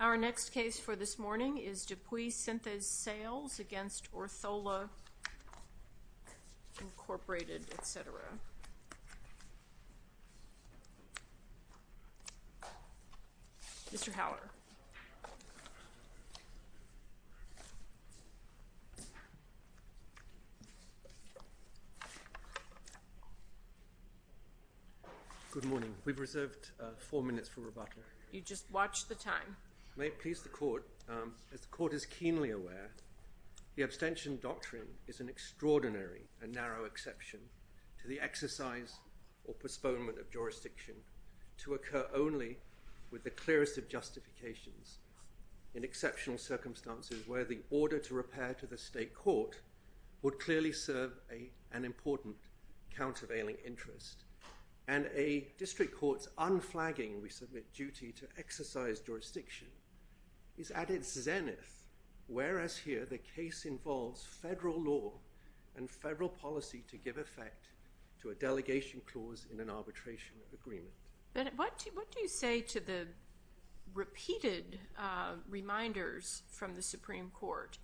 Our next case for this morning is Dupuy Synthes Sales, Inc. v. Orthola, Inc. Mr. Haller. Good morning. We've reserved four minutes for rebuttal. You just watched the time. May it please the Court, as the Court is keenly aware, the abstention doctrine is an extraordinary and narrow exception to the exercise or postponement of jurisdiction to occur only with the clearest of justifications in exceptional circumstances where the order to repair to the state court would clearly serve an important and necessary purpose. And a district court's unflagging duty to exercise jurisdiction is at its zenith, whereas here the case involves federal law and federal policy to give effect to a delegation clause in an arbitration agreement. What do you say to the repeated reminders from the Supreme Court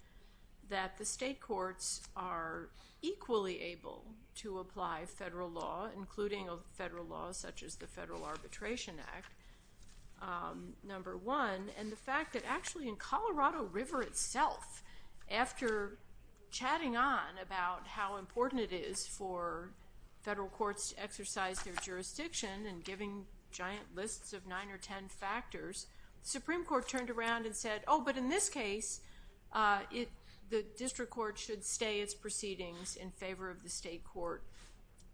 that the state courts are equally able to apply federal law, including federal laws such as the Federal Arbitration Act, number one, and the fact that actually in Colorado River itself, after chatting on about how important it is for federal courts to exercise their jurisdiction and giving giant lists of nine or ten factors, the Supreme Court turned around and said, oh, but in this case the district court should stay its proceedings in favor of the state court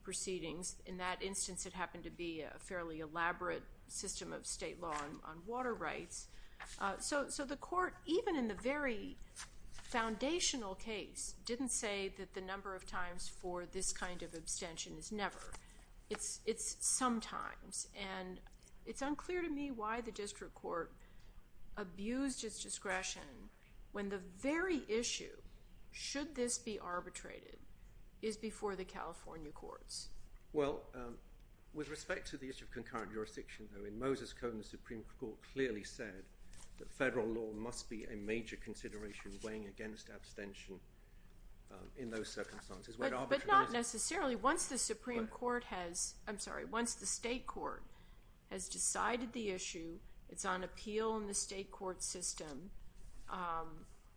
proceedings. In that instance, it happened to be a fairly elaborate system of state law on water rights. So the court, even in the very foundational case, didn't say that the number of times for this kind of abstention is never. It's sometimes. And it's unclear to me why the district court abused its discretion when the very issue, should this be arbitrated, is before the California courts. Well, with respect to the issue of concurrent jurisdiction, though, in Moses Cone the Supreme Court clearly said that federal law must be a major consideration weighing against abstention in those circumstances. But not necessarily. Once the Supreme Court has, I'm sorry, once the state court has decided the issue, it's on appeal in the state court system,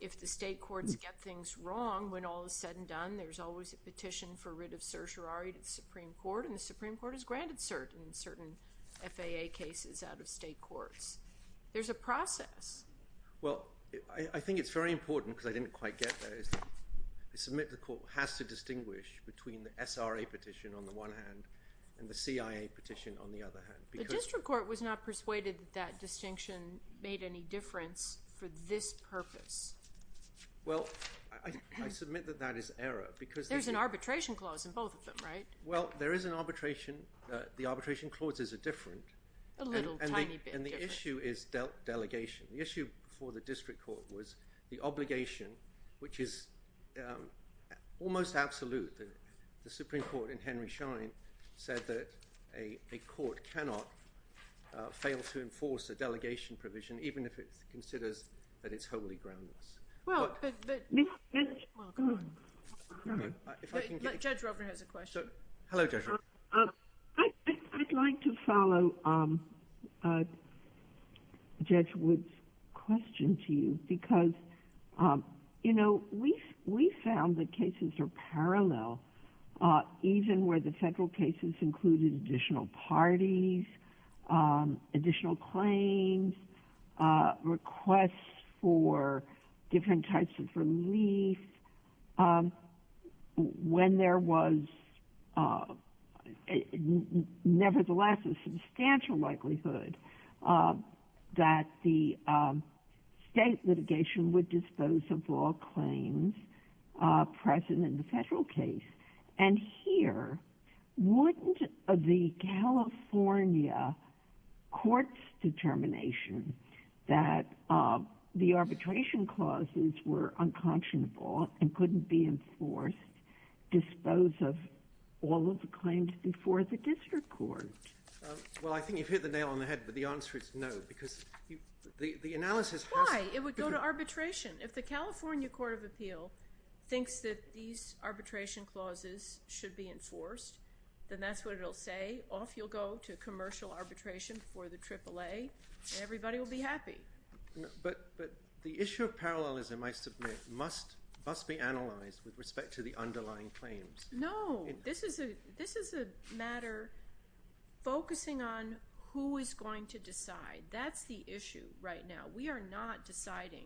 if the state courts get things wrong when all is said and done, there's always a petition for writ of certiorari to the Supreme Court, and the Supreme Court has granted certain FAA cases out of state courts. There's a process. Well, I think it's very important, because I didn't quite get that, is that the court has to distinguish between the SRA petition on the one hand and the CIA petition on the other hand. The district court was not persuaded that that distinction made any difference for this purpose. Well, I submit that that is error. There's an arbitration clause in both of them, right? Well, there is an arbitration. The arbitration clauses are different. A little tiny bit different. And the issue is delegation. The issue before the district court was the obligation, which is almost absolute. The Supreme Court in Henry Schein said that a court cannot fail to enforce a delegation provision, even if it considers that it's wholly groundless. Well, but... Go on. Judge Ruffin has a question. Hello, Judge Ruffin. I'd like to follow Judge Wood's question to you, because, you know, we found that cases are parallel, even where the federal cases included additional parties, additional claims, requests for different types of relief. When there was, nevertheless, a substantial likelihood that the state litigation would dispose of all claims present in the federal case. And here, wouldn't the California court's determination that the arbitration clauses were unconscionable and couldn't be enforced dispose of all of the claims before the district court? Well, I think you've hit the nail on the head, but the answer is no, because the analysis has... Why? It would go to arbitration. If the California Court of Appeal thinks that these arbitration clauses should be enforced, then that's what it'll say. Off you'll go to commercial arbitration for the AAA, and everybody will be happy. But the issue of parallelism, I submit, must be analyzed with respect to the underlying claims. No. This is a matter focusing on who is going to decide. That's the issue right now. We are not deciding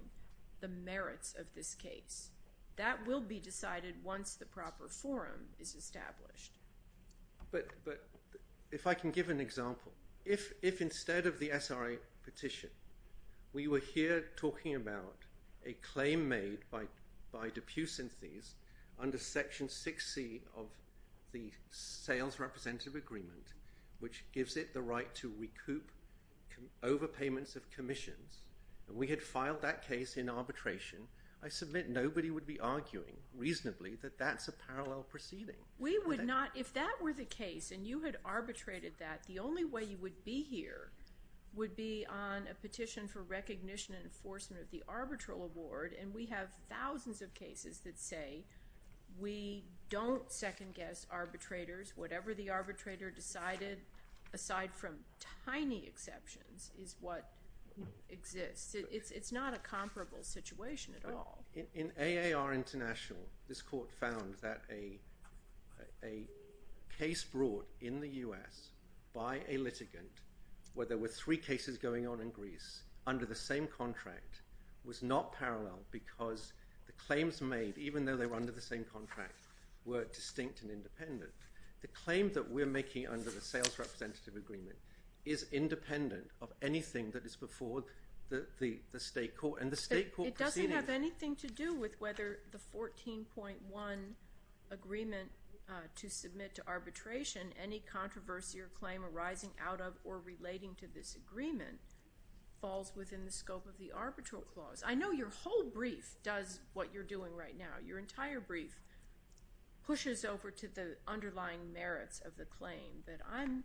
the merits of this case. That will be decided once the proper forum is established. But if I can give an example, if instead of the SRA petition, we were here talking about a claim made by Dupuis and Theis under Section 6C of the Sales Representative Agreement, which gives it the right to recoup overpayments of commissions, and we had filed that case in arbitration, I submit nobody would be arguing reasonably that that's a parallel proceeding. We would not. If that were the case and you had arbitrated that, the only way you would be here would be on a petition for recognition and enforcement of the arbitral award, and we have thousands of cases that say we don't second-guess arbitrators. Whatever the arbitrator decided, aside from tiny exceptions, is what exists. It's not a comparable situation at all. In AAR International, this court found that a case brought in the U.S. by a litigant where there were three cases going on in Greece under the same contract was not parallel because the claims made, even though they were under the same contract, were distinct and independent. The claim that we're making under the Sales Representative Agreement is independent of anything that is before the state court. It doesn't have anything to do with whether the 14.1 agreement to submit to arbitration any controversy or claim arising out of or relating to this agreement falls within the scope of the arbitral clause. I know your whole brief does what you're doing right now. Your entire brief pushes over to the underlying merits of the claim, but I'm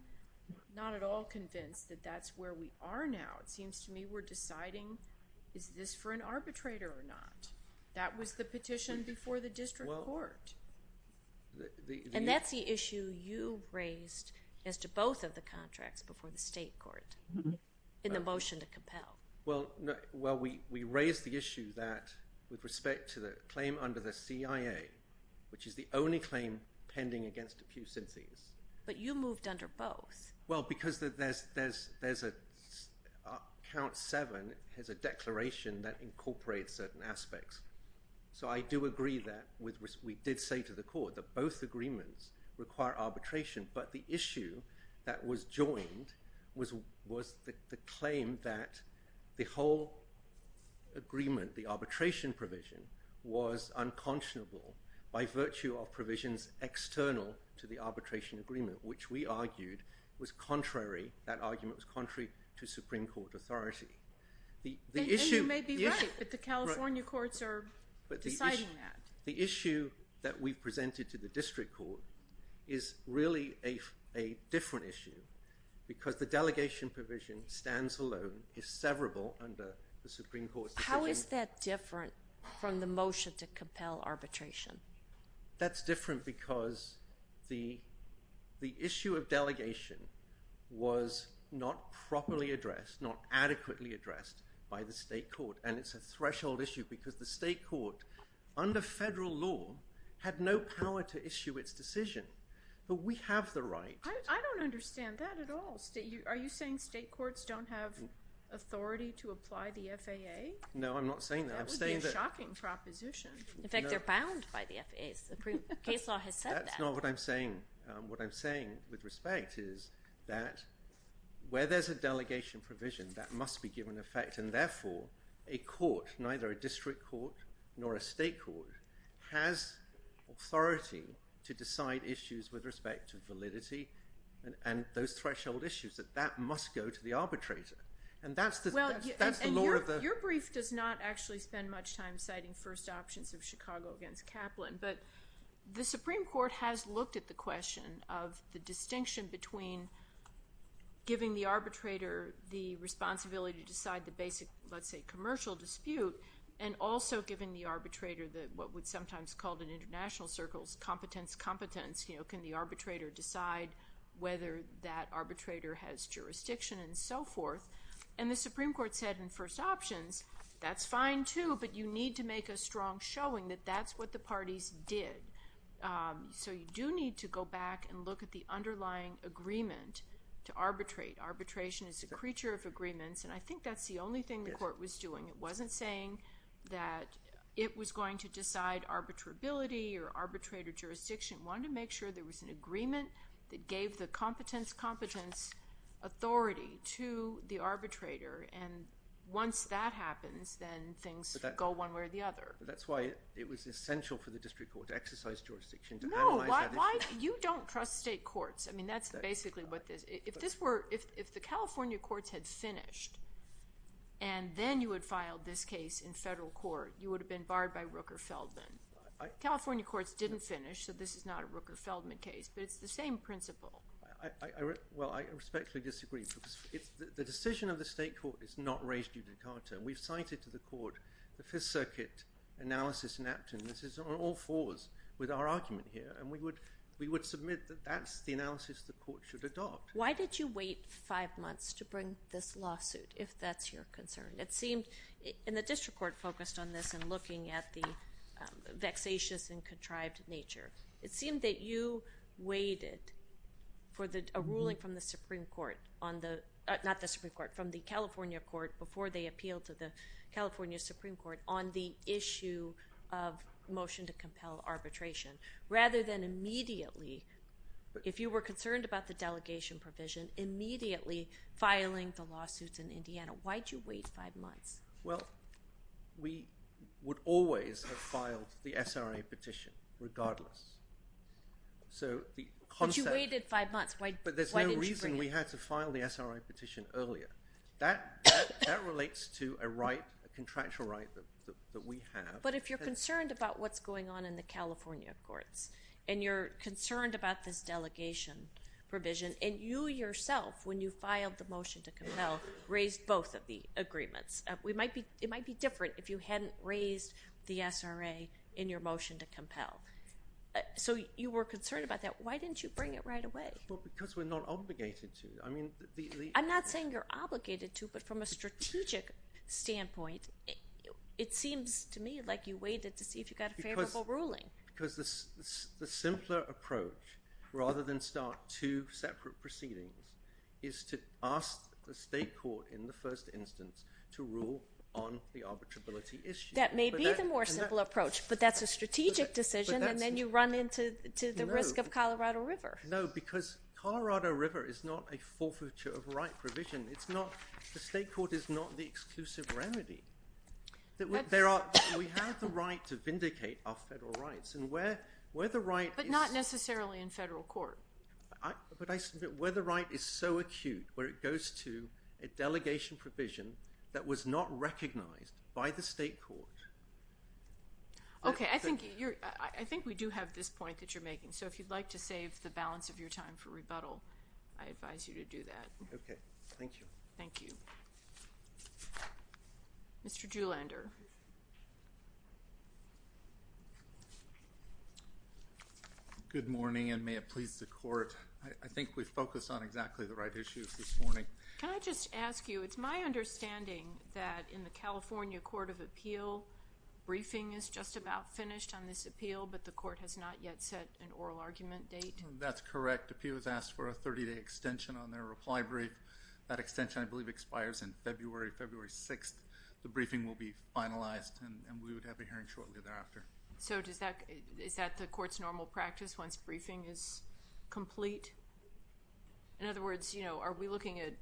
not at all convinced that that's where we are now. It seems to me we're deciding, is this for an arbitrator or not? That was the petition before the district court. And that's the issue you raised as to both of the contracts before the state court in the motion to compel. Well, we raised the issue that with respect to the claim under the CIA, which is the only claim pending against a few syntheses. But you moved under both. Well, because Count 7 has a declaration that incorporates certain aspects. So I do agree that we did say to the court that both agreements require arbitration, but the issue that was joined was the claim that the whole agreement, the arbitration provision, was unconscionable by virtue of provisions external to the arbitration agreement, which we argued was contrary. That argument was contrary to Supreme Court authority. And you may be right, but the California courts are deciding that. The issue that we've presented to the district court is really a different issue because the delegation provision stands alone, is severable under the Supreme Court's decision. How is that different from the motion to compel arbitration? That's different because the issue of delegation was not properly addressed, not adequately addressed by the state court. And it's a threshold issue because the state court, under federal law, had no power to issue its decision. But we have the right. I don't understand that at all. Are you saying state courts don't have authority to apply the FAA? No, I'm not saying that. That would be a shocking proposition. In fact, they're bound by the FAA. The case law has said that. That's not what I'm saying. What I'm saying with respect is that where there's a delegation provision, that must be given effect, and therefore a court, neither a district court nor a state court, has authority to decide issues with respect to validity and those threshold issues. That must go to the arbitrator. And that's the law of the— But the Supreme Court has looked at the question of the distinction between giving the arbitrator the responsibility to decide the basic, let's say, commercial dispute, and also giving the arbitrator what would sometimes be called in international circles competence-competence. Can the arbitrator decide whether that arbitrator has jurisdiction and so forth? And the Supreme Court said in first options, that's fine too, but you need to make a strong showing that that's what the parties did. So you do need to go back and look at the underlying agreement to arbitrate. Arbitration is a creature of agreements, and I think that's the only thing the court was doing. It wasn't saying that it was going to decide arbitrability or arbitrator jurisdiction. It wanted to make sure there was an agreement that gave the competence-competence authority to the arbitrator. And once that happens, then things go one way or the other. But that's why it was essential for the district court to exercise jurisdiction to analyze that issue. No, why—you don't trust state courts. I mean, that's basically what this—if this were—if the California courts had finished, and then you had filed this case in federal court, you would have been barred by Rooker-Feldman. California courts didn't finish, so this is not a Rooker-Feldman case, but it's the same principle. Well, I respectfully disagree because the decision of the state court is not raised due to Carter. We've cited to the court the Fifth Circuit analysis in Apton. This is on all fours with our argument here, and we would submit that that's the analysis the court should adopt. Why did you wait five months to bring this lawsuit, if that's your concern? It seemed—and the district court focused on this in looking at the vexatious and contrived nature. It seemed that you waited for a ruling from the Supreme Court on the—not the Supreme Court, from the California court before they appealed to the California Supreme Court on the issue of motion to compel arbitration, rather than immediately, if you were concerned about the delegation provision, immediately filing the lawsuits in Indiana. Why did you wait five months? Well, we would always have filed the SRA petition regardless. So the concept— But you waited five months. Why didn't you bring it? But there's no reason we had to file the SRA petition earlier. That relates to a right, a contractual right that we have. But if you're concerned about what's going on in the California courts, and you're concerned about this delegation provision, and you yourself, when you filed the motion to compel, raised both of the agreements, it might be different if you hadn't raised the SRA in your motion to compel. So you were concerned about that. Why didn't you bring it right away? Well, because we're not obligated to. I'm not saying you're obligated to, but from a strategic standpoint, it seems to me like you waited to see if you got a favorable ruling. Because the simpler approach, rather than start two separate proceedings, is to ask the state court in the first instance to rule on the arbitrability issue. That may be the more simple approach, but that's a strategic decision, and then you run into the risk of Colorado River. No, because Colorado River is not a forfeiture of right provision. It's not—the state court is not the exclusive remedy. We have the right to vindicate our federal rights, and where the right is— But not necessarily in federal court. But I submit where the right is so acute where it goes to a delegation provision that was not recognized by the state court. Okay, I think we do have this point that you're making, so if you'd like to save the balance of your time for rebuttal, I advise you to do that. Okay, thank you. Thank you. Mr. Juhlander. Good morning, and may it please the court. I think we focused on exactly the right issues this morning. Can I just ask you, it's my understanding that in the California Court of Appeal, briefing is just about finished on this appeal, but the court has not yet set an oral argument date. That's correct. Appeals ask for a 30-day extension on their reply brief. That extension, I believe, expires on February 6th. The briefing will be finalized, and we would have a hearing shortly thereafter. So is that the court's normal practice once briefing is complete? In other words, are we looking at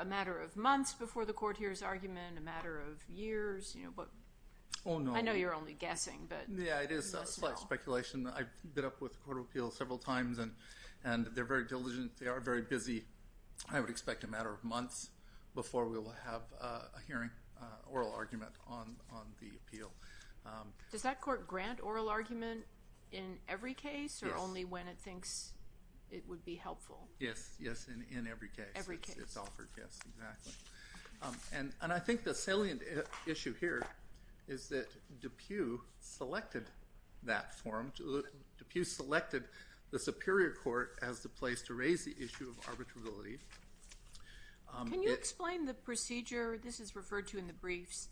a matter of months before the court hears argument, a matter of years? Oh, no. I know you're only guessing, but you must know. Yeah, it is speculation. I've been up with the Court of Appeal several times, and they're very diligent. They are very busy, I would expect, a matter of months before we will have a hearing, oral argument on the appeal. Does that court grant oral argument in every case or only when it thinks it would be helpful? Yes, yes, in every case. Every case. It's offered, yes, exactly. And I think the salient issue here is that DePue selected that forum. DePue selected the Superior Court as the place to raise the issue of arbitrability. Can you explain the procedure this is referred to in the briefs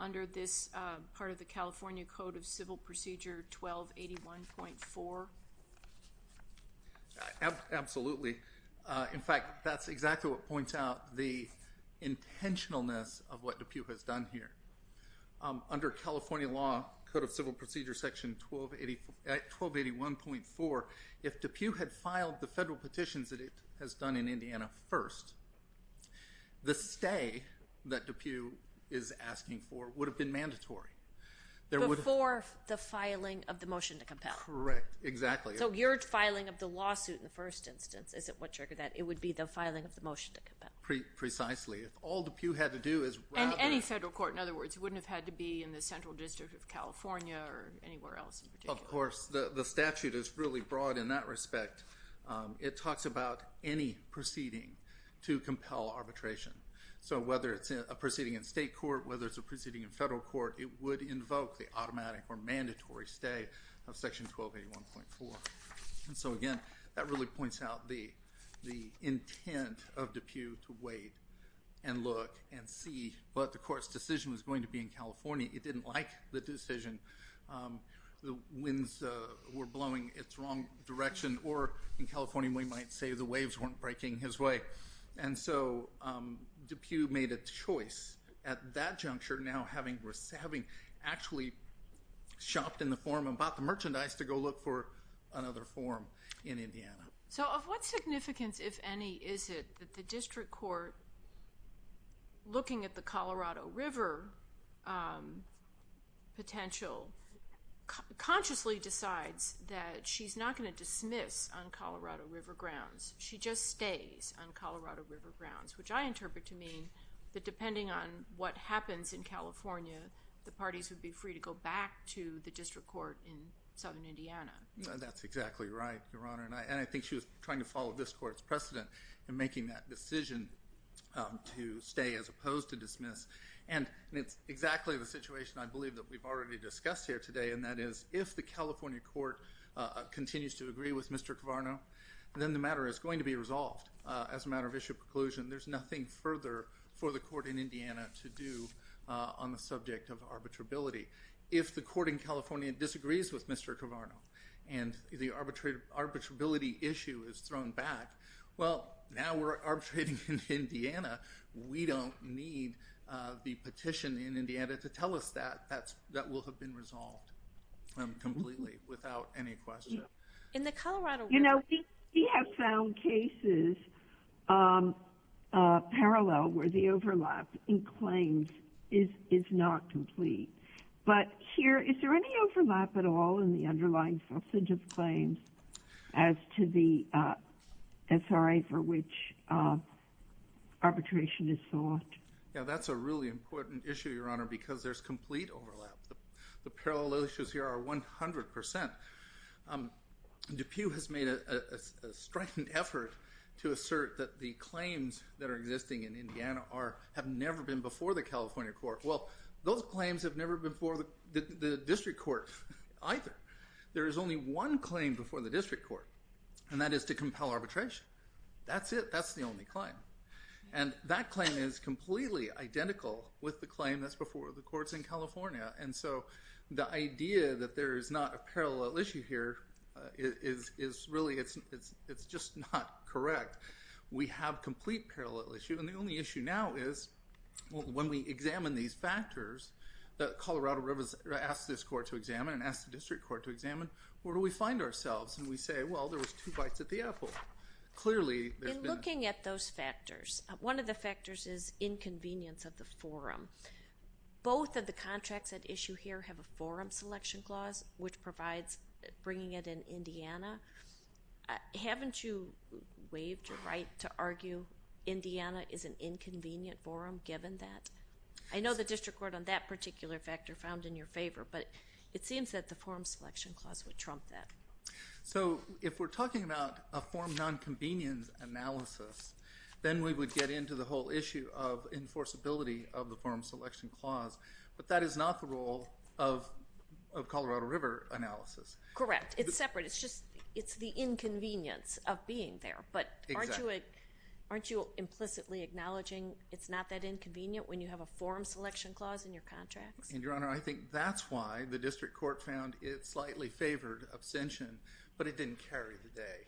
under this part of the California Code of Civil Procedure 1281.4? Absolutely. In fact, that's exactly what points out the intentionalness of what DePue has done here. Under California law, Code of Civil Procedure Section 1281.4, if DePue had filed the federal petitions that it has done in Indiana first, the stay that DePue is asking for would have been mandatory. Before the filing of the motion to compel. Correct, exactly. So your filing of the lawsuit in the first instance isn't what triggered that. It would be the filing of the motion to compel. Precisely. If all DePue had to do is rather... And any federal court, in other words. It wouldn't have had to be in the Central District of California or anywhere else in particular. Of course. The statute is really broad in that respect. It talks about any proceeding to compel arbitration. So whether it's a proceeding in state court, whether it's a proceeding in federal court, it would invoke the automatic or mandatory stay of Section 1281.4. And so, again, that really points out the intent of DePue to wait and look and see. But the court's decision was going to be in California. It didn't like the decision. The winds were blowing its wrong direction. Or, in California, we might say the waves weren't breaking his way. And so DePue made a choice at that juncture, now having actually shopped in the forum and bought the merchandise to go look for another forum in Indiana. So of what significance, if any, is it that the district court, looking at the Colorado River potential, consciously decides that she's not going to dismiss on Colorado River grounds. She just stays on Colorado River grounds, which I interpret to mean that depending on what happens in California, the parties would be free to go back to the district court in southern Indiana. That's exactly right, Your Honor. And I think she was trying to follow this court's precedent in making that decision to stay as opposed to dismiss. And it's exactly the situation I believe that we've already discussed here today. And that is, if the California court continues to agree with Mr. Carvarno, then the matter is going to be resolved as a matter of issue of preclusion. There's nothing further for the court in Indiana to do on the subject of arbitrability. If the court in California disagrees with Mr. Carvarno and the arbitrability issue is thrown back, well, now we're arbitrating in Indiana. We don't need the petition in Indiana to tell us that. That will have been resolved completely without any question. You know, we have found cases parallel where the overlap in claims is not complete. But here, is there any overlap at all in the underlying substance of claims as to the SRA for which arbitration is sought? Yeah, that's a really important issue, Your Honor, because there's complete overlap. The parallel issues here are 100%. DePue has made a strident effort to assert that the claims that are existing in Indiana have never been before the California court. Well, those claims have never been before the district court either. There is only one claim before the district court, and that is to compel arbitration. That's it. That's the only claim. And that claim is completely identical with the claim that's before the courts in California. And so the idea that there is not a parallel issue here is really it's just not correct. We have complete parallel issue, and the only issue now is when we examine these factors, Colorado asked this court to examine and asked the district court to examine, where do we find ourselves? And we say, well, there was two bites at the apple. In looking at those factors, one of the factors is inconvenience of the forum. Both of the contracts at issue here have a forum selection clause, which provides bringing it in Indiana. Haven't you waived your right to argue Indiana is an inconvenient forum given that? I know the district court on that particular factor found in your favor, but it seems that the forum selection clause would trump that. So if we're talking about a forum nonconvenience analysis, then we would get into the whole issue of enforceability of the forum selection clause. But that is not the role of Colorado River analysis. Correct. It's separate. It's just it's the inconvenience of being there. But aren't you implicitly acknowledging it's not that inconvenient when you have a forum selection clause in your contracts? And, Your Honor, I think that's why the district court found it slightly favored abstention, but it didn't carry the day.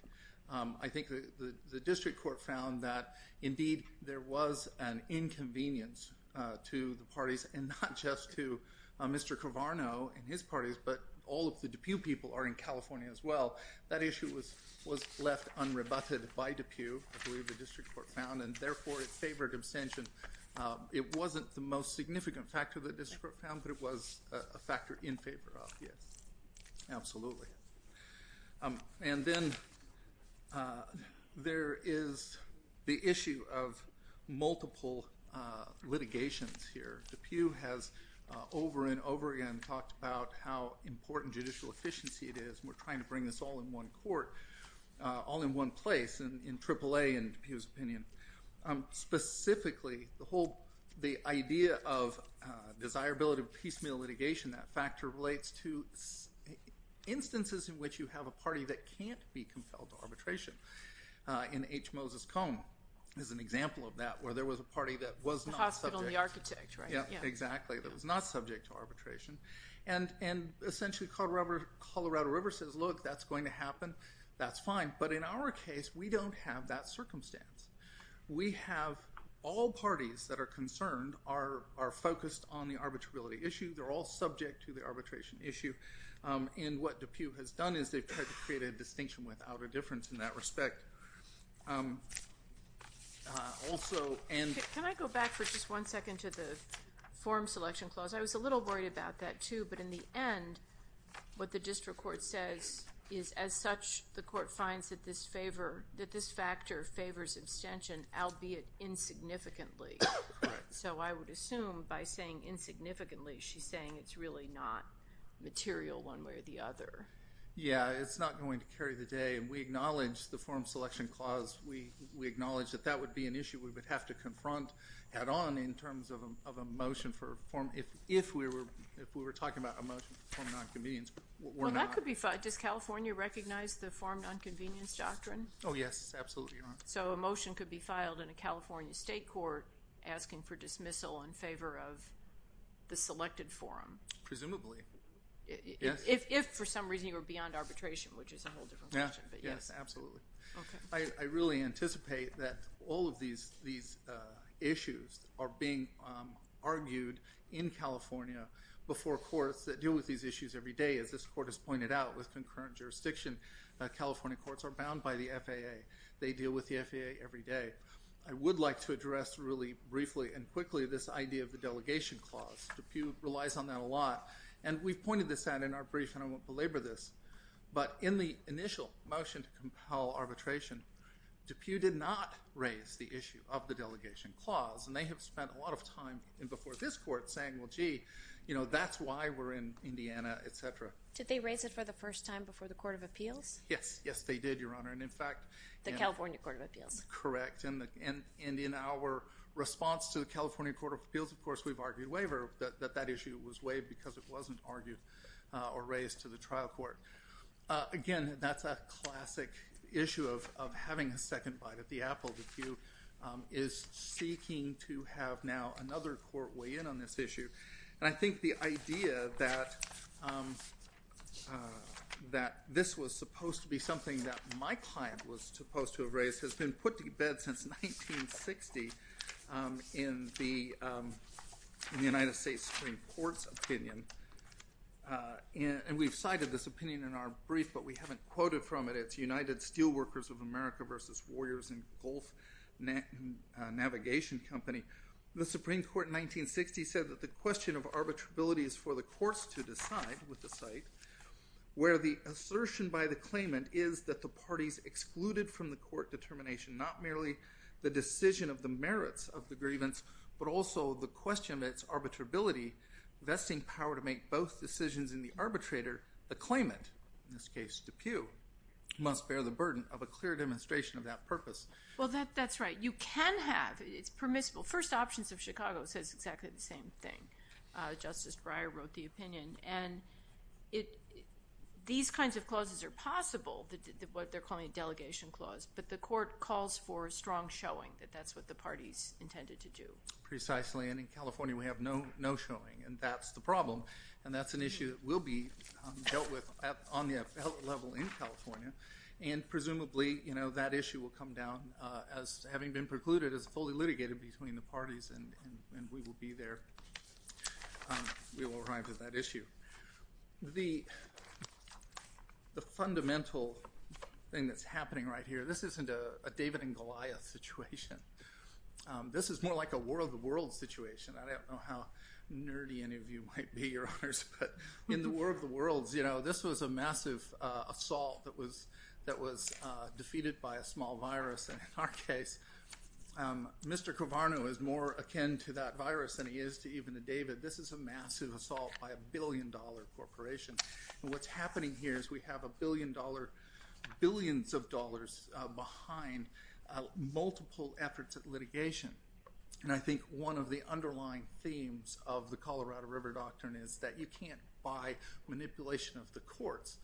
I think the district court found that, indeed, there was an inconvenience to the parties and not just to Mr. Carvarno and his parties, but all of the people are in California as well. That issue was was left unrebutted by DePuy. The district court found and therefore it favored abstention. It wasn't the most significant factor that the district court found, but it was a factor in favor of. Yes, absolutely. And then there is the issue of multiple litigations here. DePuy has over and over again talked about how important judicial efficiency it is. We're trying to bring this all in one court, all in one place, in AAA and DePuy's opinion. Specifically, the idea of desirability of piecemeal litigation, that factor relates to instances in which you have a party that can't be compelled to arbitration. In H. Moses Cone is an example of that, where there was a party that was not subject. The hospital, the architect, right? Yeah, exactly, that was not subject to arbitration. And essentially Colorado River says, look, that's going to happen. That's fine. But in our case, we don't have that circumstance. We have all parties that are concerned are focused on the arbitrability issue. They're all subject to the arbitration issue. And what DePuy has done is they've tried to create a distinction without a difference in that respect. Can I go back for just one second to the form selection clause? I was a little worried about that, too. But in the end, what the district court says is, as such, the court finds that this factor favors abstention, albeit insignificantly. So I would assume by saying insignificantly, she's saying it's really not material one way or the other. Yeah, it's not going to carry the day. We acknowledge the form selection clause. We acknowledge that that would be an issue we would have to confront head on in terms of a motion for a form. If we were talking about a motion for form of nonconvenience, we're not. Well, that could be filed. Does California recognize the form of nonconvenience doctrine? Oh, yes, absolutely. So a motion could be filed in a California state court asking for dismissal in favor of the selected forum? Presumably. If, for some reason, you were beyond arbitration, which is a whole different question. Yes, absolutely. I really anticipate that all of these issues are being argued in California before courts that deal with these issues every day. As this court has pointed out, with concurrent jurisdiction, California courts are bound by the FAA. They deal with the FAA every day. I would like to address really briefly and quickly this idea of the delegation clause. DePue relies on that a lot. And we've pointed this out in our brief, and I won't belabor this. But in the initial motion to compel arbitration, DePue did not raise the issue of the delegation clause. And they have spent a lot of time before this court saying, well, gee, that's why we're in Indiana, et cetera. Did they raise it for the first time before the Court of Appeals? Yes. Yes, they did, Your Honor. The California Court of Appeals. Correct. And in our response to the California Court of Appeals, of course, we've argued waiver that that issue was waived because it wasn't argued or raised to the trial court. Again, that's a classic issue of having a second bite at the apple. DePue is seeking to have now another court weigh in on this issue. And I think the idea that this was supposed to be something that my client was supposed to have raised has been put to bed since 1960 in the United States Supreme Court's opinion. And we've cited this opinion in our brief, but we haven't quoted from it. It's United Steelworkers of America v. Warriors and Gulf Navigation Company. The Supreme Court in 1960 said that the question of arbitrability is for the courts to decide, with the site, where the assertion by the claimant is that the parties excluded from the court determination, not merely the decision of the merits of the grievance, but also the question of its arbitrability, vesting power to make both decisions in the arbitrator. The claimant, in this case DePue, must bear the burden of a clear demonstration of that purpose. Well, that's right. You can have. It's permissible. First Options of Chicago says exactly the same thing. Justice Breyer wrote the opinion. These kinds of clauses are possible, what they're calling a delegation clause, but the court calls for a strong showing that that's what the parties intended to do. Precisely, and in California we have no showing, and that's the problem, and that's an issue that will be dealt with on the level in California. And presumably, you know, that issue will come down as having been precluded as fully litigated between the parties, and we will be there. We will arrive at that issue. The fundamental thing that's happening right here, this isn't a David and Goliath situation. This is more like a War of the Worlds situation. I don't know how nerdy any of you might be, Your Honors, but in the War of the Worlds, you know, this was a massive assault that was defeated by a small virus. And in our case, Mr. Covarno is more akin to that virus than he is to even the David. This is a massive assault by a billion-dollar corporation. And what's happening here is we have a billion dollars, billions of dollars behind multiple efforts at litigation. And I think one of the underlying themes of the Colorado River Doctrine is that you can't buy manipulation of the courts.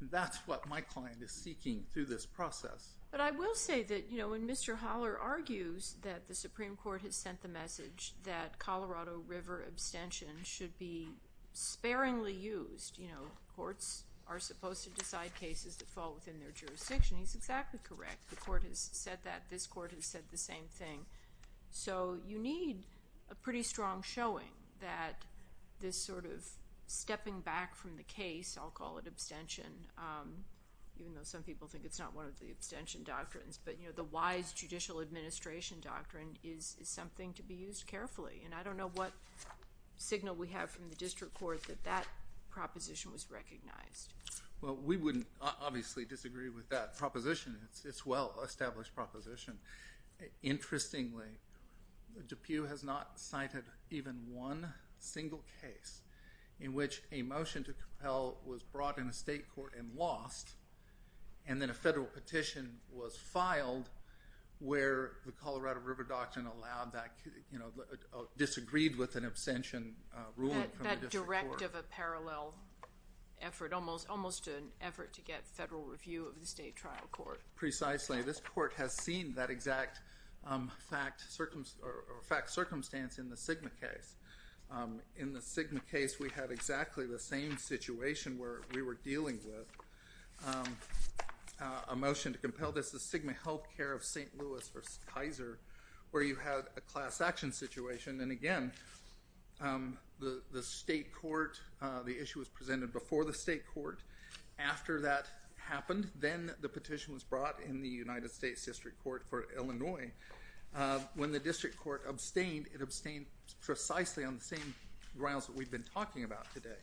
That's what my client is seeking through this process. But I will say that, you know, when Mr. Holler argues that the Supreme Court has sent the message that Colorado River abstention should be sparingly used, you know, courts are supposed to decide cases that fall within their jurisdiction, he's exactly correct. The court has said that. This court has said the same thing. So you need a pretty strong showing that this sort of stepping back from the case, I'll call it abstention, even though some people think it's not one of the abstention doctrines, but, you know, the wise judicial administration doctrine is something to be used carefully. And I don't know what signal we have from the district court that that proposition was recognized. Well, we wouldn't obviously disagree with that proposition. It's a well-established proposition. Interestingly, DePue has not cited even one single case in which a motion to compel was brought in a state court and lost, and then a federal petition was filed where the Colorado River Doctrine allowed that, you know, disagreed with an abstention ruling from the district court. Sort of a parallel effort, almost an effort to get federal review of the state trial court. Precisely. This court has seen that exact fact circumstance in the SGMA case. In the SGMA case, we had exactly the same situation where we were dealing with a motion to compel. This is SGMA Health Care of St. Louis v. Kaiser where you had a class action situation, and, again, the state court, the issue was presented before the state court. After that happened, then the petition was brought in the United States District Court for Illinois. When the district court abstained, it abstained precisely on the same grounds that we've been talking about today,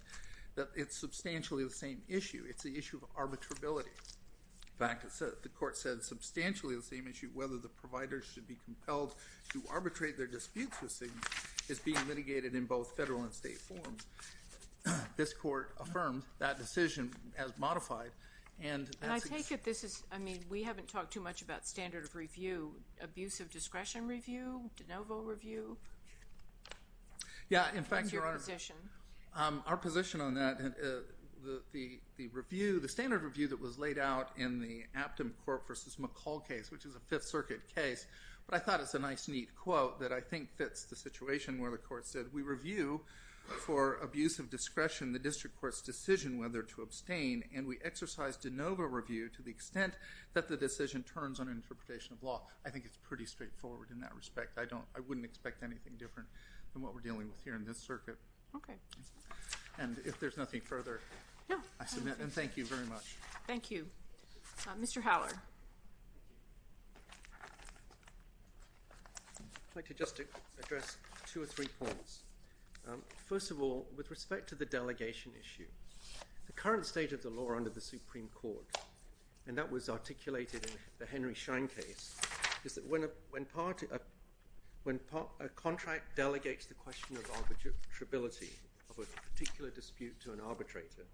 that it's substantially the same issue. It's the issue of arbitrability. In fact, the court said substantially the same issue, whether the provider should be compelled to arbitrate their disputes with SGMA, is being litigated in both federal and state forms. This court affirmed that decision as modified. And I take it this is, I mean, we haven't talked too much about standard of review, abusive discretion review, de novo review? Yeah, in fact, your Honor. What's your position? Our position on that, the standard review that was laid out in the Aptom Court v. McCall case, which is a Fifth Circuit case, but I thought it's a nice, neat quote that I think fits the situation where the court said, we review for abusive discretion the district court's decision whether to abstain, and we exercise de novo review to the extent that the decision turns on interpretation of law. I think it's pretty straightforward in that respect. I wouldn't expect anything different than what we're dealing with here in this circuit. Okay. And if there's nothing further, I submit, and thank you very much. Thank you. Mr. Howard. I'd like to just address two or three points. First of all, with respect to the delegation issue, the current state of the law under the Supreme Court, and that was articulated in the Henry Schein case, is that when a contract delegates the question of arbitrability of a particular dispute to an arbitrator,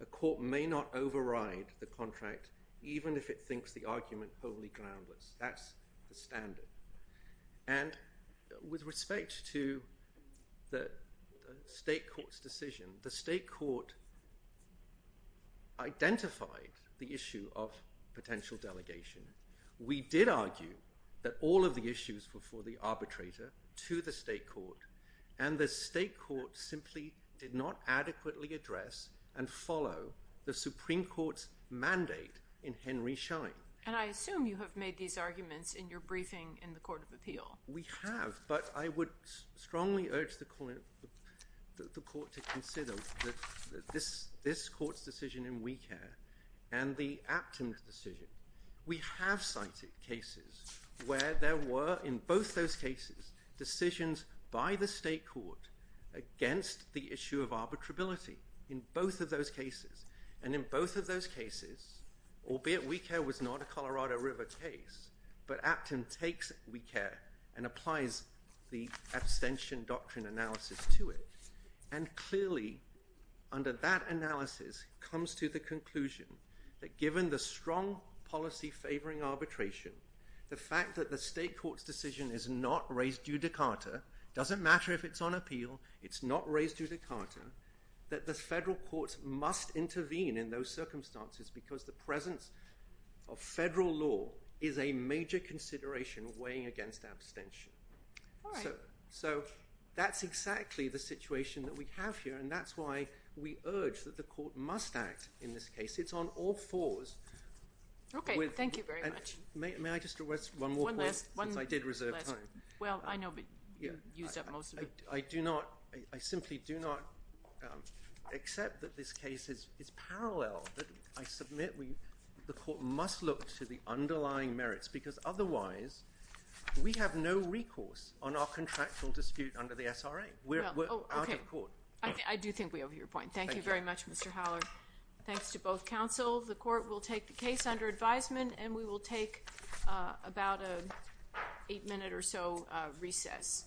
a court may not override the contract even if it thinks the argument wholly groundless. That's the standard. And with respect to the state court's decision, the state court identified the issue of potential delegation. We did argue that all of the issues were for the arbitrator to the state court, and the state court simply did not adequately address and follow the Supreme Court's mandate in Henry Schein. And I assume you have made these arguments in your briefing in the Court of Appeal. We have, but I would strongly urge the court to consider this court's decision in WeCare and the Apton decision. We have cited cases where there were, in both those cases, decisions by the state court against the issue of arbitrability, in both of those cases. And in both of those cases, albeit WeCare was not a Colorado River case, but Apton takes WeCare and applies the abstention doctrine analysis to it. And clearly, under that analysis comes to the conclusion that given the strong policy favoring arbitration, the fact that the state court's decision is not raised judicata, doesn't matter if it's on appeal, it's not raised judicata, that the federal courts must intervene in those circumstances because the presence of federal law is a major consideration weighing against abstention. So that's exactly the situation that we have here, and that's why we urge that the court must act in this case. It's on all fours. Okay, thank you very much. May I just request one more point? One last. Because I did reserve time. Well, I know, but you've used up most of it. I do not, I simply do not accept that this case is parallel. I submit the court must look to the underlying merits, because otherwise we have no recourse on our contractual dispute under the SRA. We're out of court. I do think we over your point. Thank you very much, Mr. Howler. Thanks to both counsel. The court will take the case under advisement, and we will take about an eight-minute or so recess.